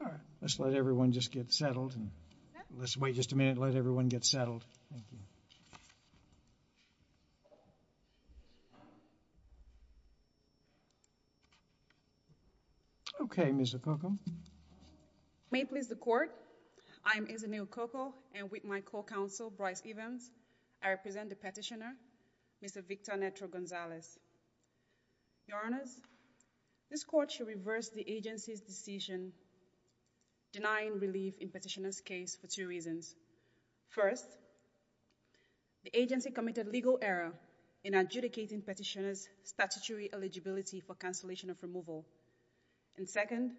Right, We'll let everyone just get settled. Let's wait just a minute and let everyone get settled. Okay, Ms. Okoko. May it please the court, I am Izunil Okoko and with my co-counsel, Bryce Evans, I represent the petitioner, Mr. Victor Neto Gonzalez. Your Honors, this court should reverse the agency's decision denying relief in petitioner's case for two reasons. First, the agency committed legal error in adjudicating petitioner's statutory eligibility for cancellation of removal. And second,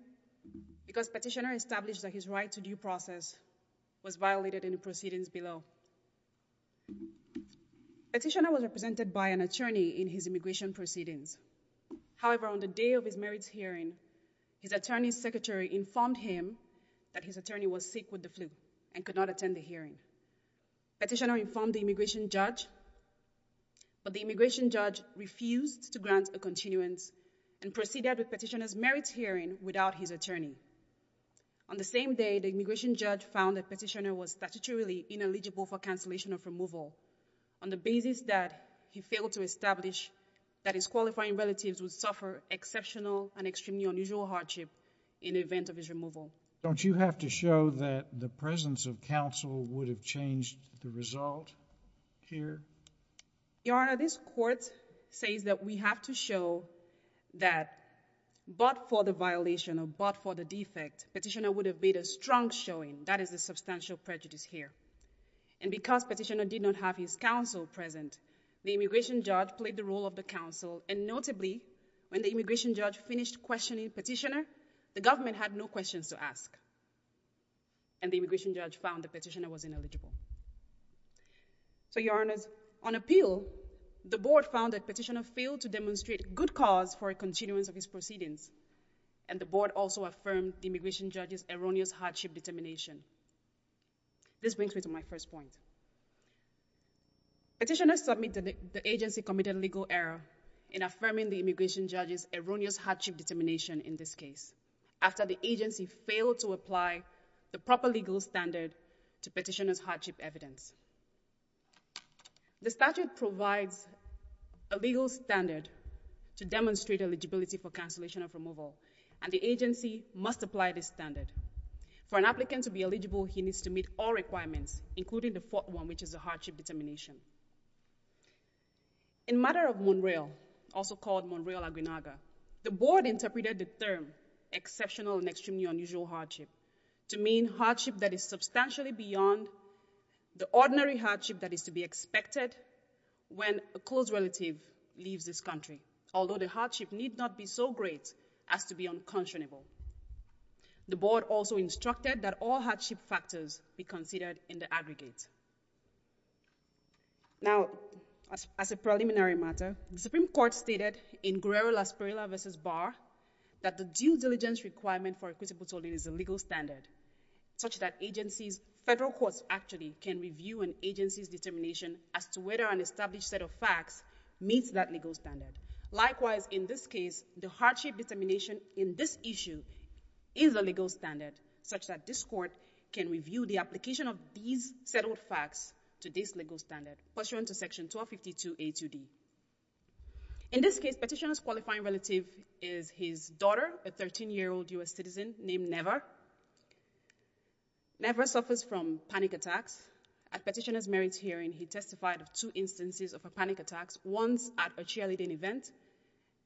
because petitioner established that his right to due process was violated in the proceedings below. Petitioner was represented by an attorney in his immigration proceedings. However, on the day of his merits hearing, his attorney's secretary informed him that his attorney was sick with the flu and could not attend the hearing. Petitioner informed the immigration judge, but the immigration judge refused to grant a continuance and proceeded with petitioner's merits hearing without his attorney. On the same day, the immigration judge found that petitioner was statutorily ineligible for cancellation of removal on the basis that he failed to establish that his qualifying relatives would suffer exceptional and extremely unusual hardship in the event of his removal. Don't you have to show that the presence of counsel would have changed the result here? Your Honor, this court says that we have to show that but for the violation or but for the defect, petitioner would have made a strong showing. That is the substantial prejudice here. And because petitioner did not have his counsel present, the immigration judge played the role of the counsel and notably, when the immigration judge finished questioning petitioner, the government had no questions to ask. And the immigration judge found that petitioner was ineligible. So Your Honors, on appeal, the board found that petitioner failed to demonstrate good cause for a continuance of his proceedings and the board also affirmed the immigration judge's erroneous hardship determination. This brings me to my first point. Petitioner submitted the agency committed legal error in affirming the immigration judge's erroneous hardship determination in this case after the agency failed to apply the proper legal standard to petitioner's hardship evidence. The statute provides a legal standard to demonstrate eligibility for cancellation of removal and the agency must apply this standard. For an applicant to be eligible, he needs to meet all requirements including the fourth one which is the hardship determination. In matter of Monreal, also called Monreal-Aguinaga, the board interpreted the term exceptional and extremely unusual hardship to mean hardship that is substantially beyond the ordinary hardship that is to be expected when a close relative leaves this country, although the hardship need not be so great as to be unconscionable. The board also instructed that all hardship factors be considered in the aggregate. Now as a preliminary matter, the Supreme Court stated in Guerrero-Las Perlas v. Barr that the due diligence requirement for equitable tolling is a legal standard such that agencies, federal courts actually, can review an agency's determination as to whether an established set of facts meets that legal standard. Likewise, in this case, the hardship determination in this issue is a legal standard such that this court can review the application of these settled facts to this legal standard, pursuant to section 1252A2D. In this case, petitioner's qualifying relative is his daughter, a 13-year-old U.S. citizen named Neva. Neva suffers from panic attacks. At petitioner's marriage hearing, he testified of two instances of her panic attacks, once at a cheerleading event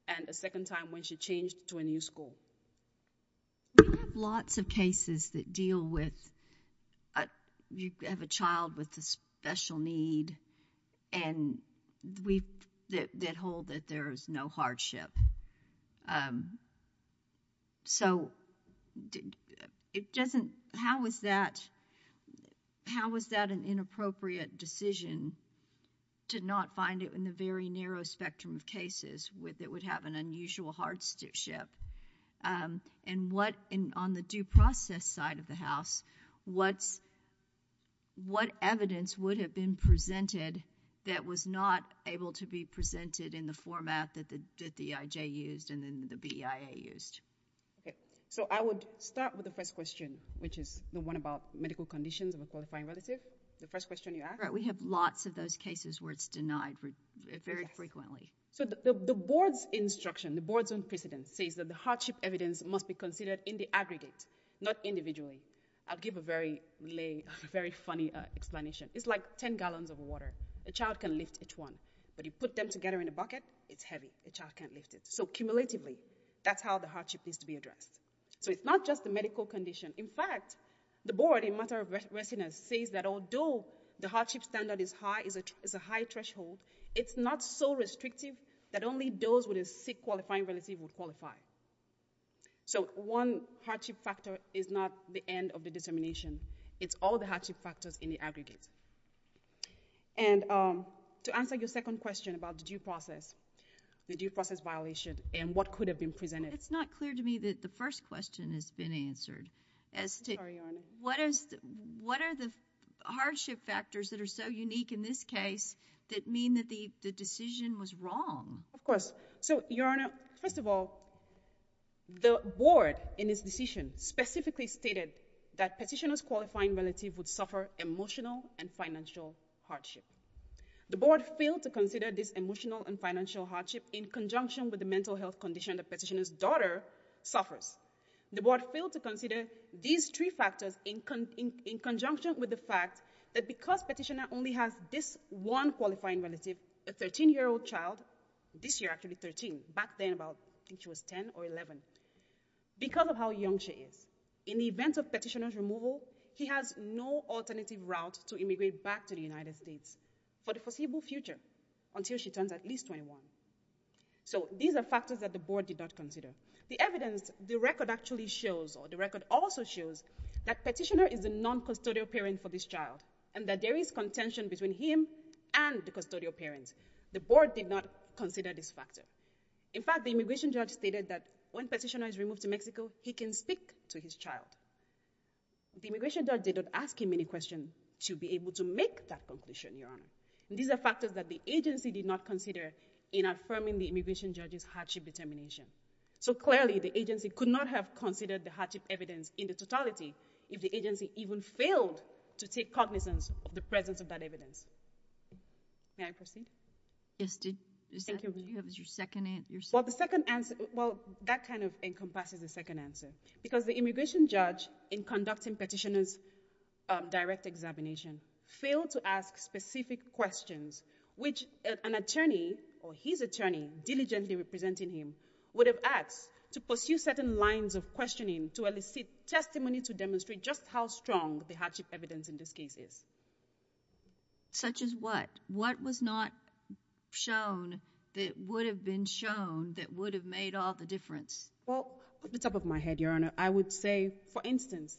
and a second time when she changed to a new school. We have lots of cases that deal with, you have a child with a special need and we've had cases that hold that there is no hardship. So it doesn't, how is that, how is that an inappropriate decision to not find it in the very narrow spectrum of cases that would have an unusual hardship? And what, on the due process side of the house, what's, what evidence would have been presented that was not able to be presented in the format that the EIJ used and then the BEIA used? So I would start with the first question, which is the one about medical conditions of a qualifying relative. The first question you asked? Right. We have lots of those cases where it's denied very frequently. So the board's instruction, the board's own precedence says that the hardship evidence must be considered in the aggregate, not individually. I'll give a very lay, very funny explanation. It's like 10 gallons of water. A child can lift each one, but you put them together in a bucket, it's heavy. A child can't lift it. So cumulatively, that's how the hardship needs to be addressed. So it's not just the medical condition. In fact, the board in matter of restlessness says that although the hardship standard is high, is a high threshold, it's not so restrictive that only those with a sick qualifying relative would qualify. So one hardship factor is not the end of the determination. It's all the hardship factors in the aggregate. And to answer your second question about the due process, the due process violation, and what could have been presented. It's not clear to me that the first question has been answered, as to what are the hardship factors that are so unique in this case that mean that the decision was wrong? Of course. So Your Honor, first of all, the board in this decision specifically stated that petitioner's qualifying relative would suffer emotional and financial hardship. The board failed to consider this emotional and financial hardship in conjunction with the mental health condition the petitioner's daughter suffers. The board failed to consider these three factors in conjunction with the fact that because of how young she is, in the event of petitioner's removal, he has no alternative route to immigrate back to the United States for the foreseeable future until she turns at least 21. So these are factors that the board did not consider. The evidence, the record actually shows, or the record also shows, that petitioner is a non-custodial parent for this child, and that there is contention between him and the custodial parent. The board did not consider this factor. In fact, the immigration judge stated that when petitioner is removed to Mexico, he can speak to his child. The immigration judge did not ask him any question to be able to make that conclusion, Your Honor. These are factors that the agency did not consider in affirming the immigration judge's hardship determination. So clearly, the agency could not have considered the hardship evidence in the totality if the agency even failed to take cognizance of the presence of that evidence. May I proceed? Yes. Thank you. Was that your second answer? Well, the second answer, well, that kind of encompasses the second answer. Because the immigration judge, in conducting petitioner's direct examination, failed to ask specific questions, which an attorney, or his attorney, diligently representing him, just how strong the hardship evidence in this case is. Such as what? What was not shown that would have been shown that would have made all the difference? Well, off the top of my head, Your Honor, I would say, for instance,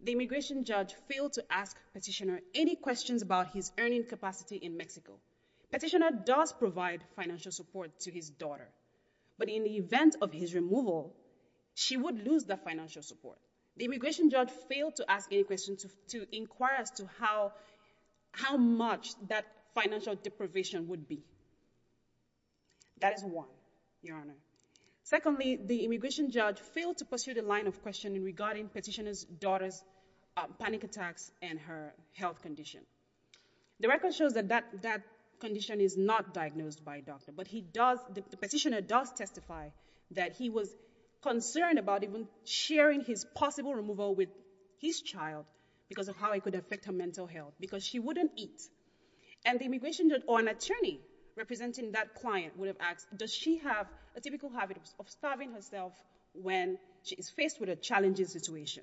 the immigration judge failed to ask petitioner any questions about his earning capacity in Mexico. Petitioner does provide financial support to his daughter, but in the event of his removal, she would lose that financial support. The immigration judge failed to ask any questions to inquire as to how much that financial deprivation would be. That is one, Your Honor. Secondly, the immigration judge failed to pursue the line of questioning regarding petitioner's daughter's panic attacks and her health condition. The record shows that that condition is not diagnosed by a doctor, but the petitioner does testify that he was concerned about even sharing his possible removal with his child because of how it could affect her mental health. Because she wouldn't eat. And the immigration judge, or an attorney representing that client, would have asked, does she have a typical habit of starving herself when she is faced with a challenging situation?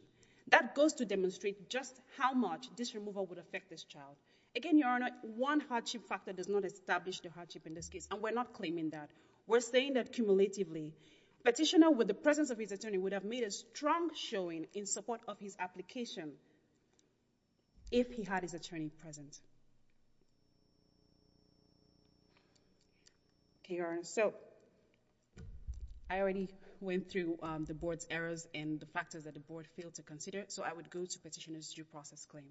That goes to demonstrate just how much this removal would affect this child. Again, Your Honor, one hardship factor does not establish the hardship in this case, and we're not claiming that. We're saying that cumulatively, petitioner, with the presence of his attorney, would have made a strong showing in support of his application if he had his attorney present. Okay, Your Honor, so I already went through the board's errors and the factors that the board failed to consider, so I would go to petitioner's due process claim.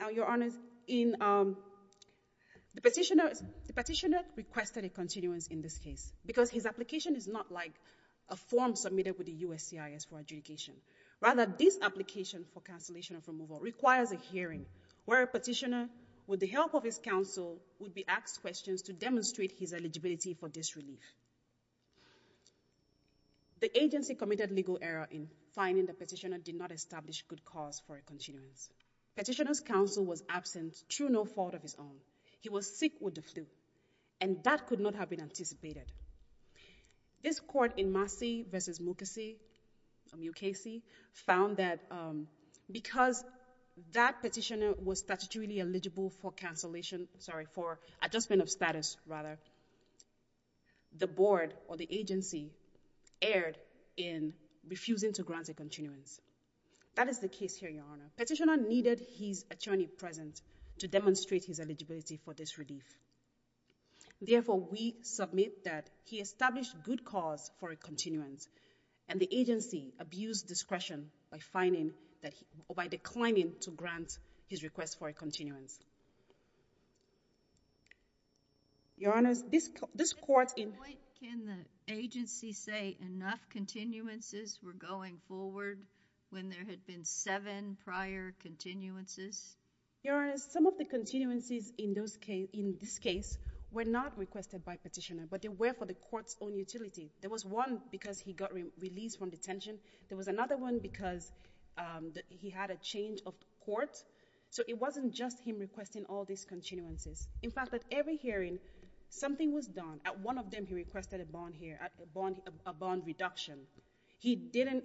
Now, Your Honor, the petitioner requested a continuance in this case because his application is not like a form submitted with the USCIS for adjudication. Rather, this application for cancellation of removal requires a hearing where a petitioner, with the help of his counsel, would be asked questions to demonstrate his eligibility for this relief. The agency committed legal error in finding the petitioner did not establish good cause for a continuance. Petitioner's counsel was absent, true no fault of his own. He was sick with the flu, and that could not have been anticipated. This court in Massey v. Mukasey found that because that petitioner was statutorily eligible for cancellation, sorry, for adjustment of status, rather, the board or the agency erred in refusing to grant a continuance. That is the case here, Your Honor. Petitioner needed his attorney present to demonstrate his eligibility for this relief. Therefore, we submit that he established good cause for a continuance, and the agency abused discretion by declining to grant his request for a continuance. Your Honor, this court in- Can the agency say enough continuances were going forward when there had been seven prior continuances? Your Honor, some of the continuances in this case were not requested by petitioner, but they were for the court's own utility. There was one because he got released from detention. There was another one because he had a change of court. So it wasn't just him requesting all these continuances. In fact, at every hearing, something was done. At one of them, he requested a bond here, a bond reduction. He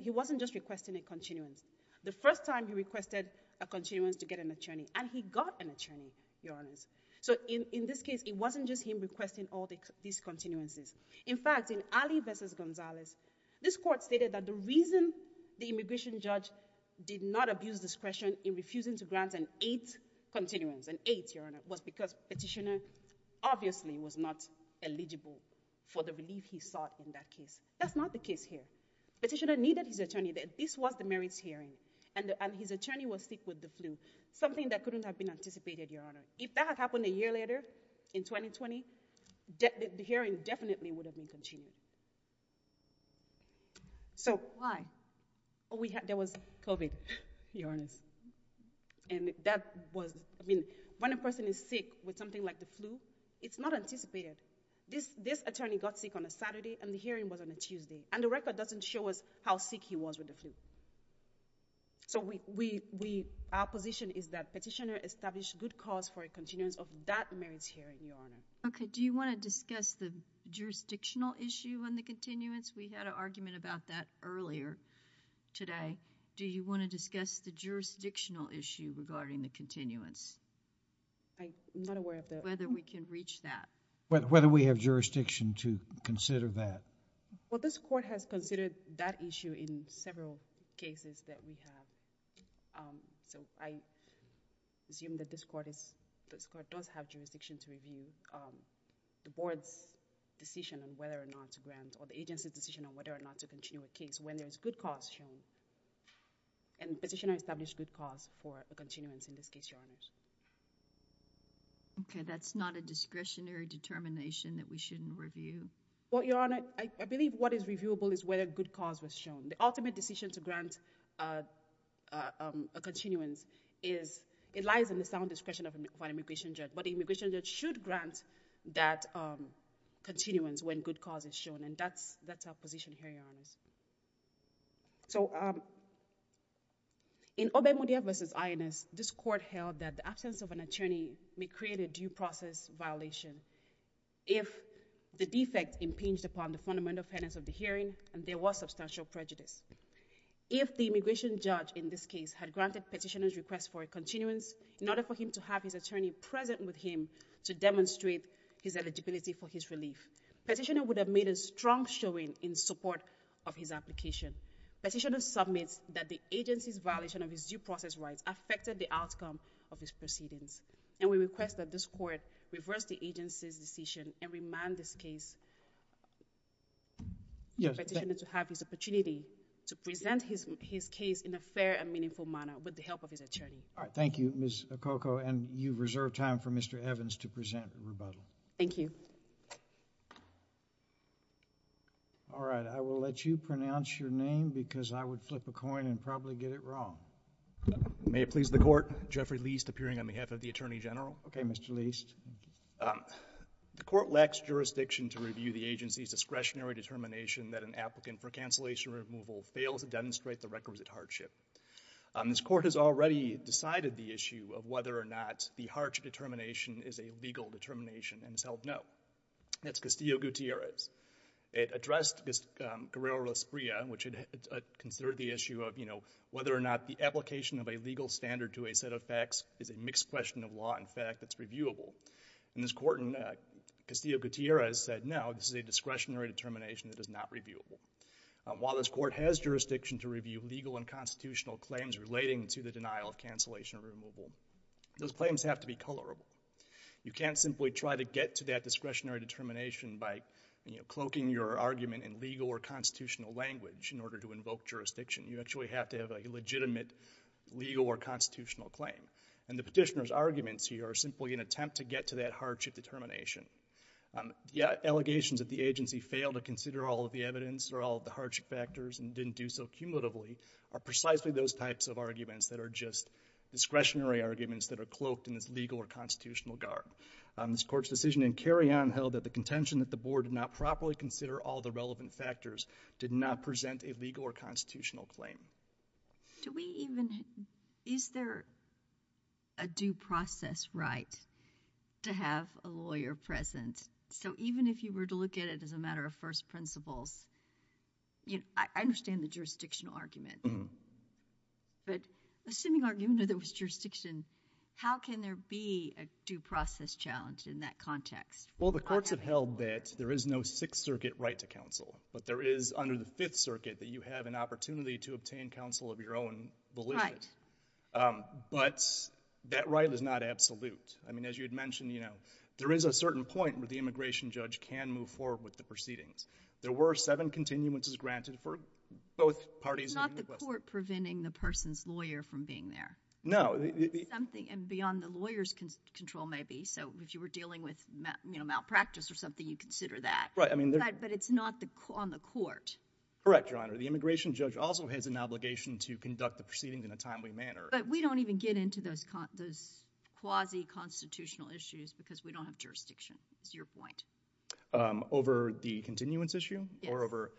wasn't just requesting a continuance. The first time he requested a continuance to get an attorney, and he got an attorney, Your Honor. So in this case, it wasn't just him requesting all these continuances. In fact, in Alley v. Gonzalez, this court stated that the reason the immigration judge did not abuse discretion in refusing to grant an eighth continuance, an eighth, Your Honor, was because petitioner obviously was not eligible for the relief he sought in that case. That's not the case here. Petitioner needed his attorney. This was the merits hearing, and his attorney was sick with the flu, something that couldn't have been anticipated, Your Honor. If that had happened a year later, in 2020, the hearing definitely would have been continued. So why? Oh, there was COVID, Your Honor. There was COVID, and that was, I mean, when a person is sick with something like the flu, it's not anticipated. This attorney got sick on a Saturday, and the hearing was on a Tuesday, and the record doesn't show us how sick he was with the flu. So our position is that petitioner established good cause for a continuance of that merits hearing, Your Honor. Okay. Do you want to discuss the jurisdictional issue on the continuance? We had an argument about that earlier today. Do you want to discuss the jurisdictional issue regarding the continuance? I'm not aware of that. Whether we can reach that. Whether we have jurisdiction to consider that. Well, this court has considered that issue in several cases that we have. So I assume that this court does have jurisdiction to review the board's decision on whether or not to grant, or the agency's decision on whether or not to continue a case when there is good cause shown. And petitioner established good cause for a continuance in this case, Your Honor. Okay. That's not a discretionary determination that we shouldn't review. Well, Your Honor, I believe what is reviewable is whether good cause was shown. The ultimate decision to grant a continuance is, it lies in the sound discretion of an immigration judge. But the immigration judge should grant that continuance when good cause is shown. And that's our position here, Your Honor. So in Obemudia v. INS, this court held that the absence of an attorney may create a due process violation if the defect impinged upon the fundamental fairness of the hearing and there was substantial prejudice. If the immigration judge in this case had granted petitioner's request for a continuance in order for him to have his attorney present with him to demonstrate his eligibility for his relief, petitioner would have made a strong showing in support of his application. Petitioner submits that the agency's violation of his due process rights affected the outcome of his proceedings. And we request that this court reverse the agency's decision and remand this case to have his opportunity to present his case in a fair and meaningful manner with the help of his attorney. All right. Thank you, Ms. Okoko. And you reserve time for Mr. Evans to present a rebuttal. Thank you. All right. I will let you pronounce your name because I would flip a coin and probably get it wrong. May it please the Court. Jeffrey Leist, appearing on behalf of the Attorney General. Okay, Mr. Leist. The court lacks jurisdiction to review the agency's discretionary determination that an applicant for cancellation removal fails to demonstrate the requisite hardship. This court has already decided the issue of whether or not the harsh determination is a legal determination and has held no. That's Castillo-Gutierrez. It addressed Guerrero-Lasprilla, which considered the issue of, you know, whether or not the application of a legal standard to a set of facts is a mixed question of law and fact that's reviewable. In this court, Castillo-Gutierrez said no, this is a discretionary determination that is not reviewable. While this court has jurisdiction to review legal and constitutional claims relating to the denial of cancellation removal, those claims have to be colorable. You can't simply try to get to that discretionary determination by, you know, cloaking your argument in legal or constitutional language in order to invoke jurisdiction. You actually have to have a legitimate legal or constitutional claim. And the petitioner's arguments here are simply an attempt to get to that hardship determination. Allegations that the agency failed to consider all of the evidence or all of the hardship factors and didn't do so cumulatively are precisely those types of arguments that are just discretionary arguments that are cloaked in this legal or constitutional guard. This court's decision in Carrion held that the contention that the board did not properly consider all the relevant factors did not present a legal or constitutional claim. Do we even, is there a due process right to have a lawyer present? So even if you were to look at it as a matter of first principles, you know, I understand the jurisdictional argument, but assuming argument that there was jurisdiction, how can there be a due process challenge in that context? Well, the courts have held that there is no Sixth Circuit right to counsel, but there is under the Fifth Circuit that you have an opportunity to obtain counsel of your own volition. Right. But that right is not absolute. I mean, as you had mentioned, you know, there is a certain point where the immigration judge can move forward with the proceedings. There were seven continuances granted for both parties. It's not the court preventing the person's lawyer from being there. No. Something beyond the lawyer's control maybe. So if you were dealing with malpractice or something, you consider that. Right. But it's not on the court. Correct, Your Honor. The immigration judge also has an obligation to conduct the proceedings in a timely manner. But we don't even get into those quasi-constitutional issues because we don't have jurisdiction, is your point. Over the continuance issue? Yes. Or over...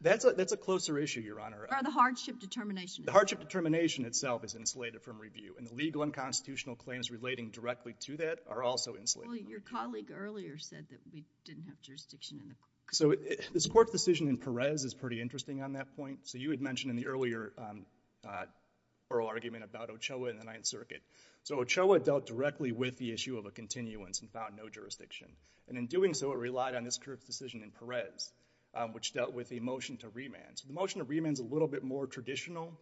That's a closer issue, Your Honor. Or the hardship determination. The hardship determination itself is insulated from review, and the legal and constitutional claims relating directly to that are also insulated. Your colleague earlier said that we didn't have jurisdiction in the court. So this court's decision in Perez is pretty interesting on that point. So you had mentioned in the earlier oral argument about Ochoa and the Ninth Circuit. So Ochoa dealt directly with the issue of a continuance and found no jurisdiction. And in doing so, it relied on this court's decision in Perez, which dealt with a motion to remand. So the motion to remand is a little bit more traditional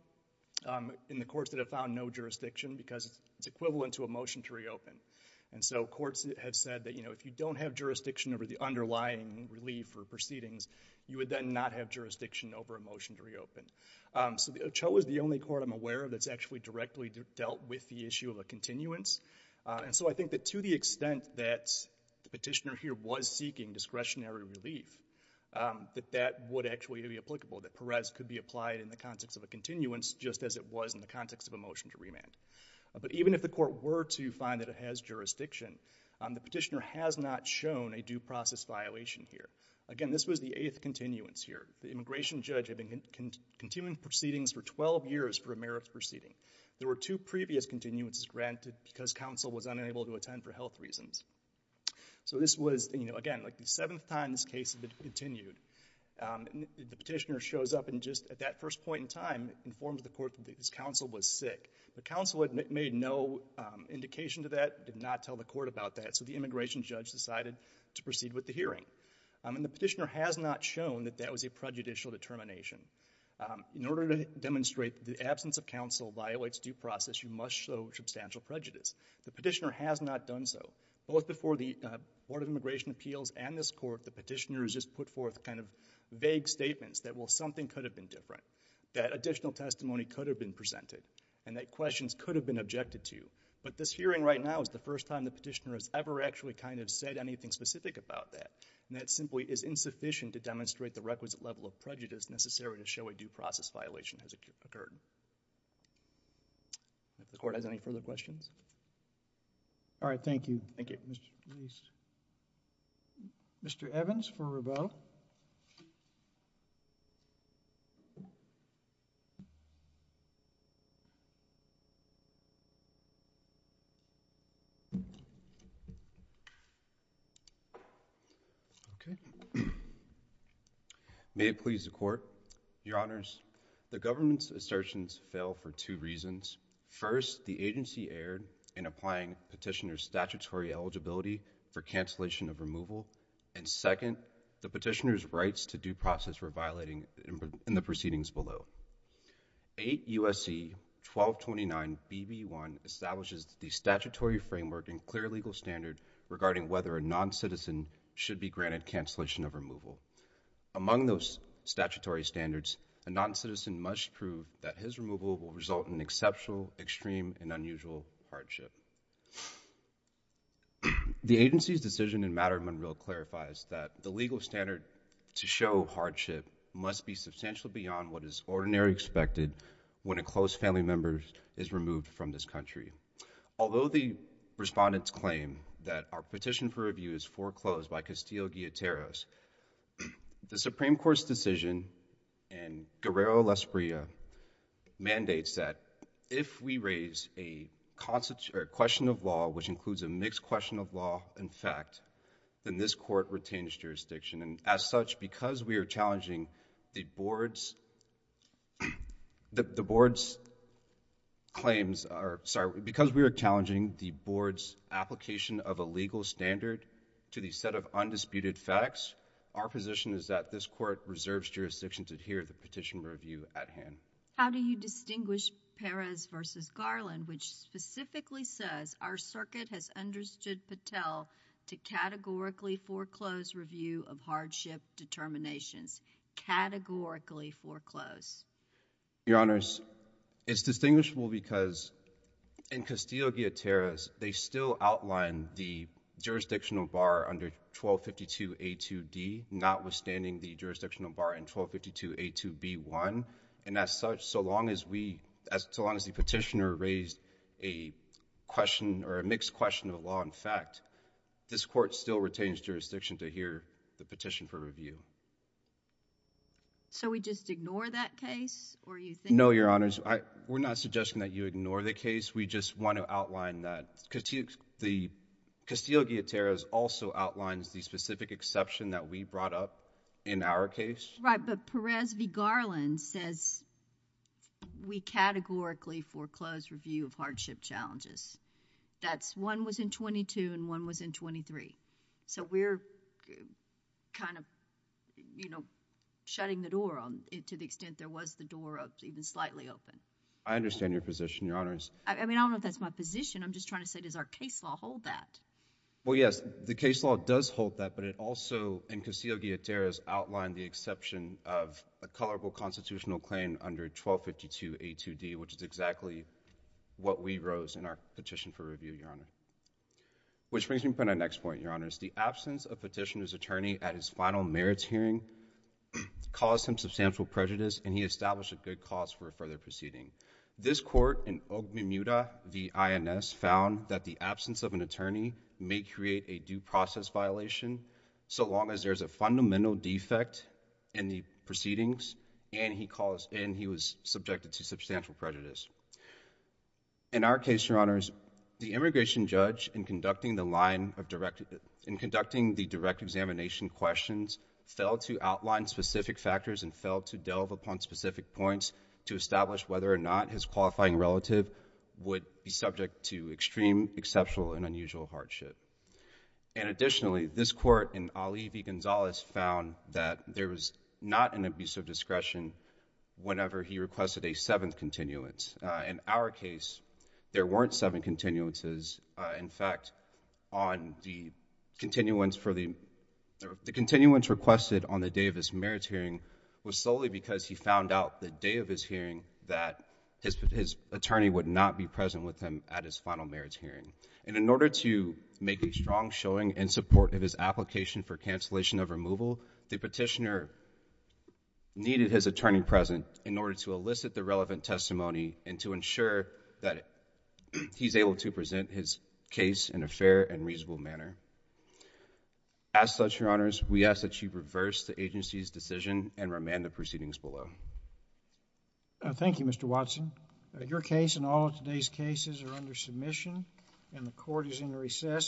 in the courts that have found no jurisdiction because it's equivalent to a motion to reopen. And so courts have said that if you don't have jurisdiction over the underlying relief for proceedings, you would then not have jurisdiction over a motion to reopen. So Ochoa is the only court I'm aware of that's actually directly dealt with the issue of a continuance. And so I think that to the extent that the petitioner here was seeking discretionary relief, that that would actually be applicable, that Perez could be applied in the context of a continuance just as it was in the context of a motion to remand. But even if the court were to find that it has jurisdiction, the petitioner has not shown a due process violation here. Again, this was the eighth continuance here. The immigration judge had been continuing proceedings for 12 years for a merits proceeding. There were two previous continuances granted because counsel was unable to attend for health reasons. So this was, again, like the seventh time this case had been continued. The petitioner shows up and just at that first point in time informs the court that this counsel was sick. The counsel had made no indication to that, did not tell the court about that. So the immigration judge decided to proceed with the hearing. And the petitioner has not shown that that was a prejudicial determination. In order to demonstrate the absence of counsel violates due process, you must show substantial prejudice. The petitioner has not done so. Both before the Board of Immigration Appeals and this court, the petitioner has just put forth kind of vague statements that, well, something could have been different, that additional testimony could have been presented, and that questions could have been objected to. But this hearing right now is the first time the petitioner has ever actually kind of said anything specific about that. And that simply is insufficient to demonstrate the requisite level of prejudice necessary to show a due process violation has occurred. If the court has any further questions. All right. Thank you. Thank you. Mr. Leist. Mr. Evans for Riveau. Okay. May it please the Court. Your Honors, the government's assertions fail for two reasons. First, the agency erred in applying petitioner's statutory eligibility for cancellation of removal. And second, the petitioner's rights to due process were violating in the proceedings below. 8 U.S.C. 1229 BB1 establishes the statutory framework and clear legal standard regarding whether a noncitizen should be granted cancellation of removal. Among those statutory standards, a noncitizen must prove that his removal will result in exceptional, extreme, and unusual hardship. The agency's decision in matter of Monroe clarifies that the legal standard to show hardship must be substantial beyond what is ordinarily expected when a close family member is removed from this country. Although the respondents claim that our petition for review is foreclosed by Castillo-Guillateros, the Supreme Court's decision in Guerrero-Lasprilla mandates that if we raise a question of law which includes a mixed question of law and fact, then this Court retains jurisdiction. And as such, because we are challenging the Board's claims or, sorry, because we are challenging the Board's application of a legal standard to the set of undisputed facts, our position is that this Court reserves jurisdiction to adhere to the petition for review at hand. How do you distinguish Perez v. Garland, which specifically says our circuit has understood Patel to categorically foreclose review of hardship determinations, categorically foreclose? Your Honors, it's distinguishable because in Castillo-Guillateros, they still outline the jurisdictional bar under 1252A2D, notwithstanding the jurisdictional bar in 1252A2B1. And as such, so long as we, so long as the petitioner raised a question or a mixed question of law and fact, this Court still retains jurisdiction to adhere the petition for review. So, we just ignore that case, or you think... No, Your Honors. We're not suggesting that you ignore the case. We just want to outline that. The Castillo-Guillateros also outlines the specific exception that we brought up in our case. Right, but Perez v. Garland says we categorically foreclose review of hardship challenges. That's one was in 22 and one was in 23. So, we're kind of, you know, shutting the door to the extent there was the door even slightly open. I understand your position, Your Honors. I mean, I don't know if that's my position. I'm just trying to say, does our case law hold that? Well, yes. The case law does hold that, but it also, in Castillo-Guillateros, outlined the exception of a colorable constitutional claim under 1252A2D, which is exactly what we rose in our petition for review, Your Honor. Which brings me to my next point, Your Honors. The absence of petitioner's attorney at his final merits hearing caused him substantial prejudice and he established a good cause for a further proceeding. This court in Ogbemuda v. INS found that the absence of an attorney may create a due process violation so long as there's a fundamental defect in the proceedings and he was subjected to substantial prejudice. In our case, Your Honors, the immigration judge, in conducting the line of direct—in conducting the direct examination questions, failed to outline specific factors and failed to delve upon specific points to establish whether or not his qualifying relative would be subject to extreme, exceptional, and unusual hardship. And additionally, this court in Ali v. Gonzalez found that there was not an abuse of discretion whenever he requested a seventh continuance. In our case, there weren't seven continuances. In fact, on the continuance for the—the continuance requested on the day of his merits hearing was solely because he found out the day of his hearing that his attorney would not be present with him at his final merits hearing. And in order to make a strong showing in support of his application for cancellation of removal, the petitioner needed his attorney present in order to elicit the relevant testimony and to ensure that he's able to present his case in a fair and reasonable manner. As such, Your Honors, we ask that you reverse the agency's decision and remand the proceedings below. Thank you, Mr. Watson. Your case and all of today's cases are under submission and the court is in recess.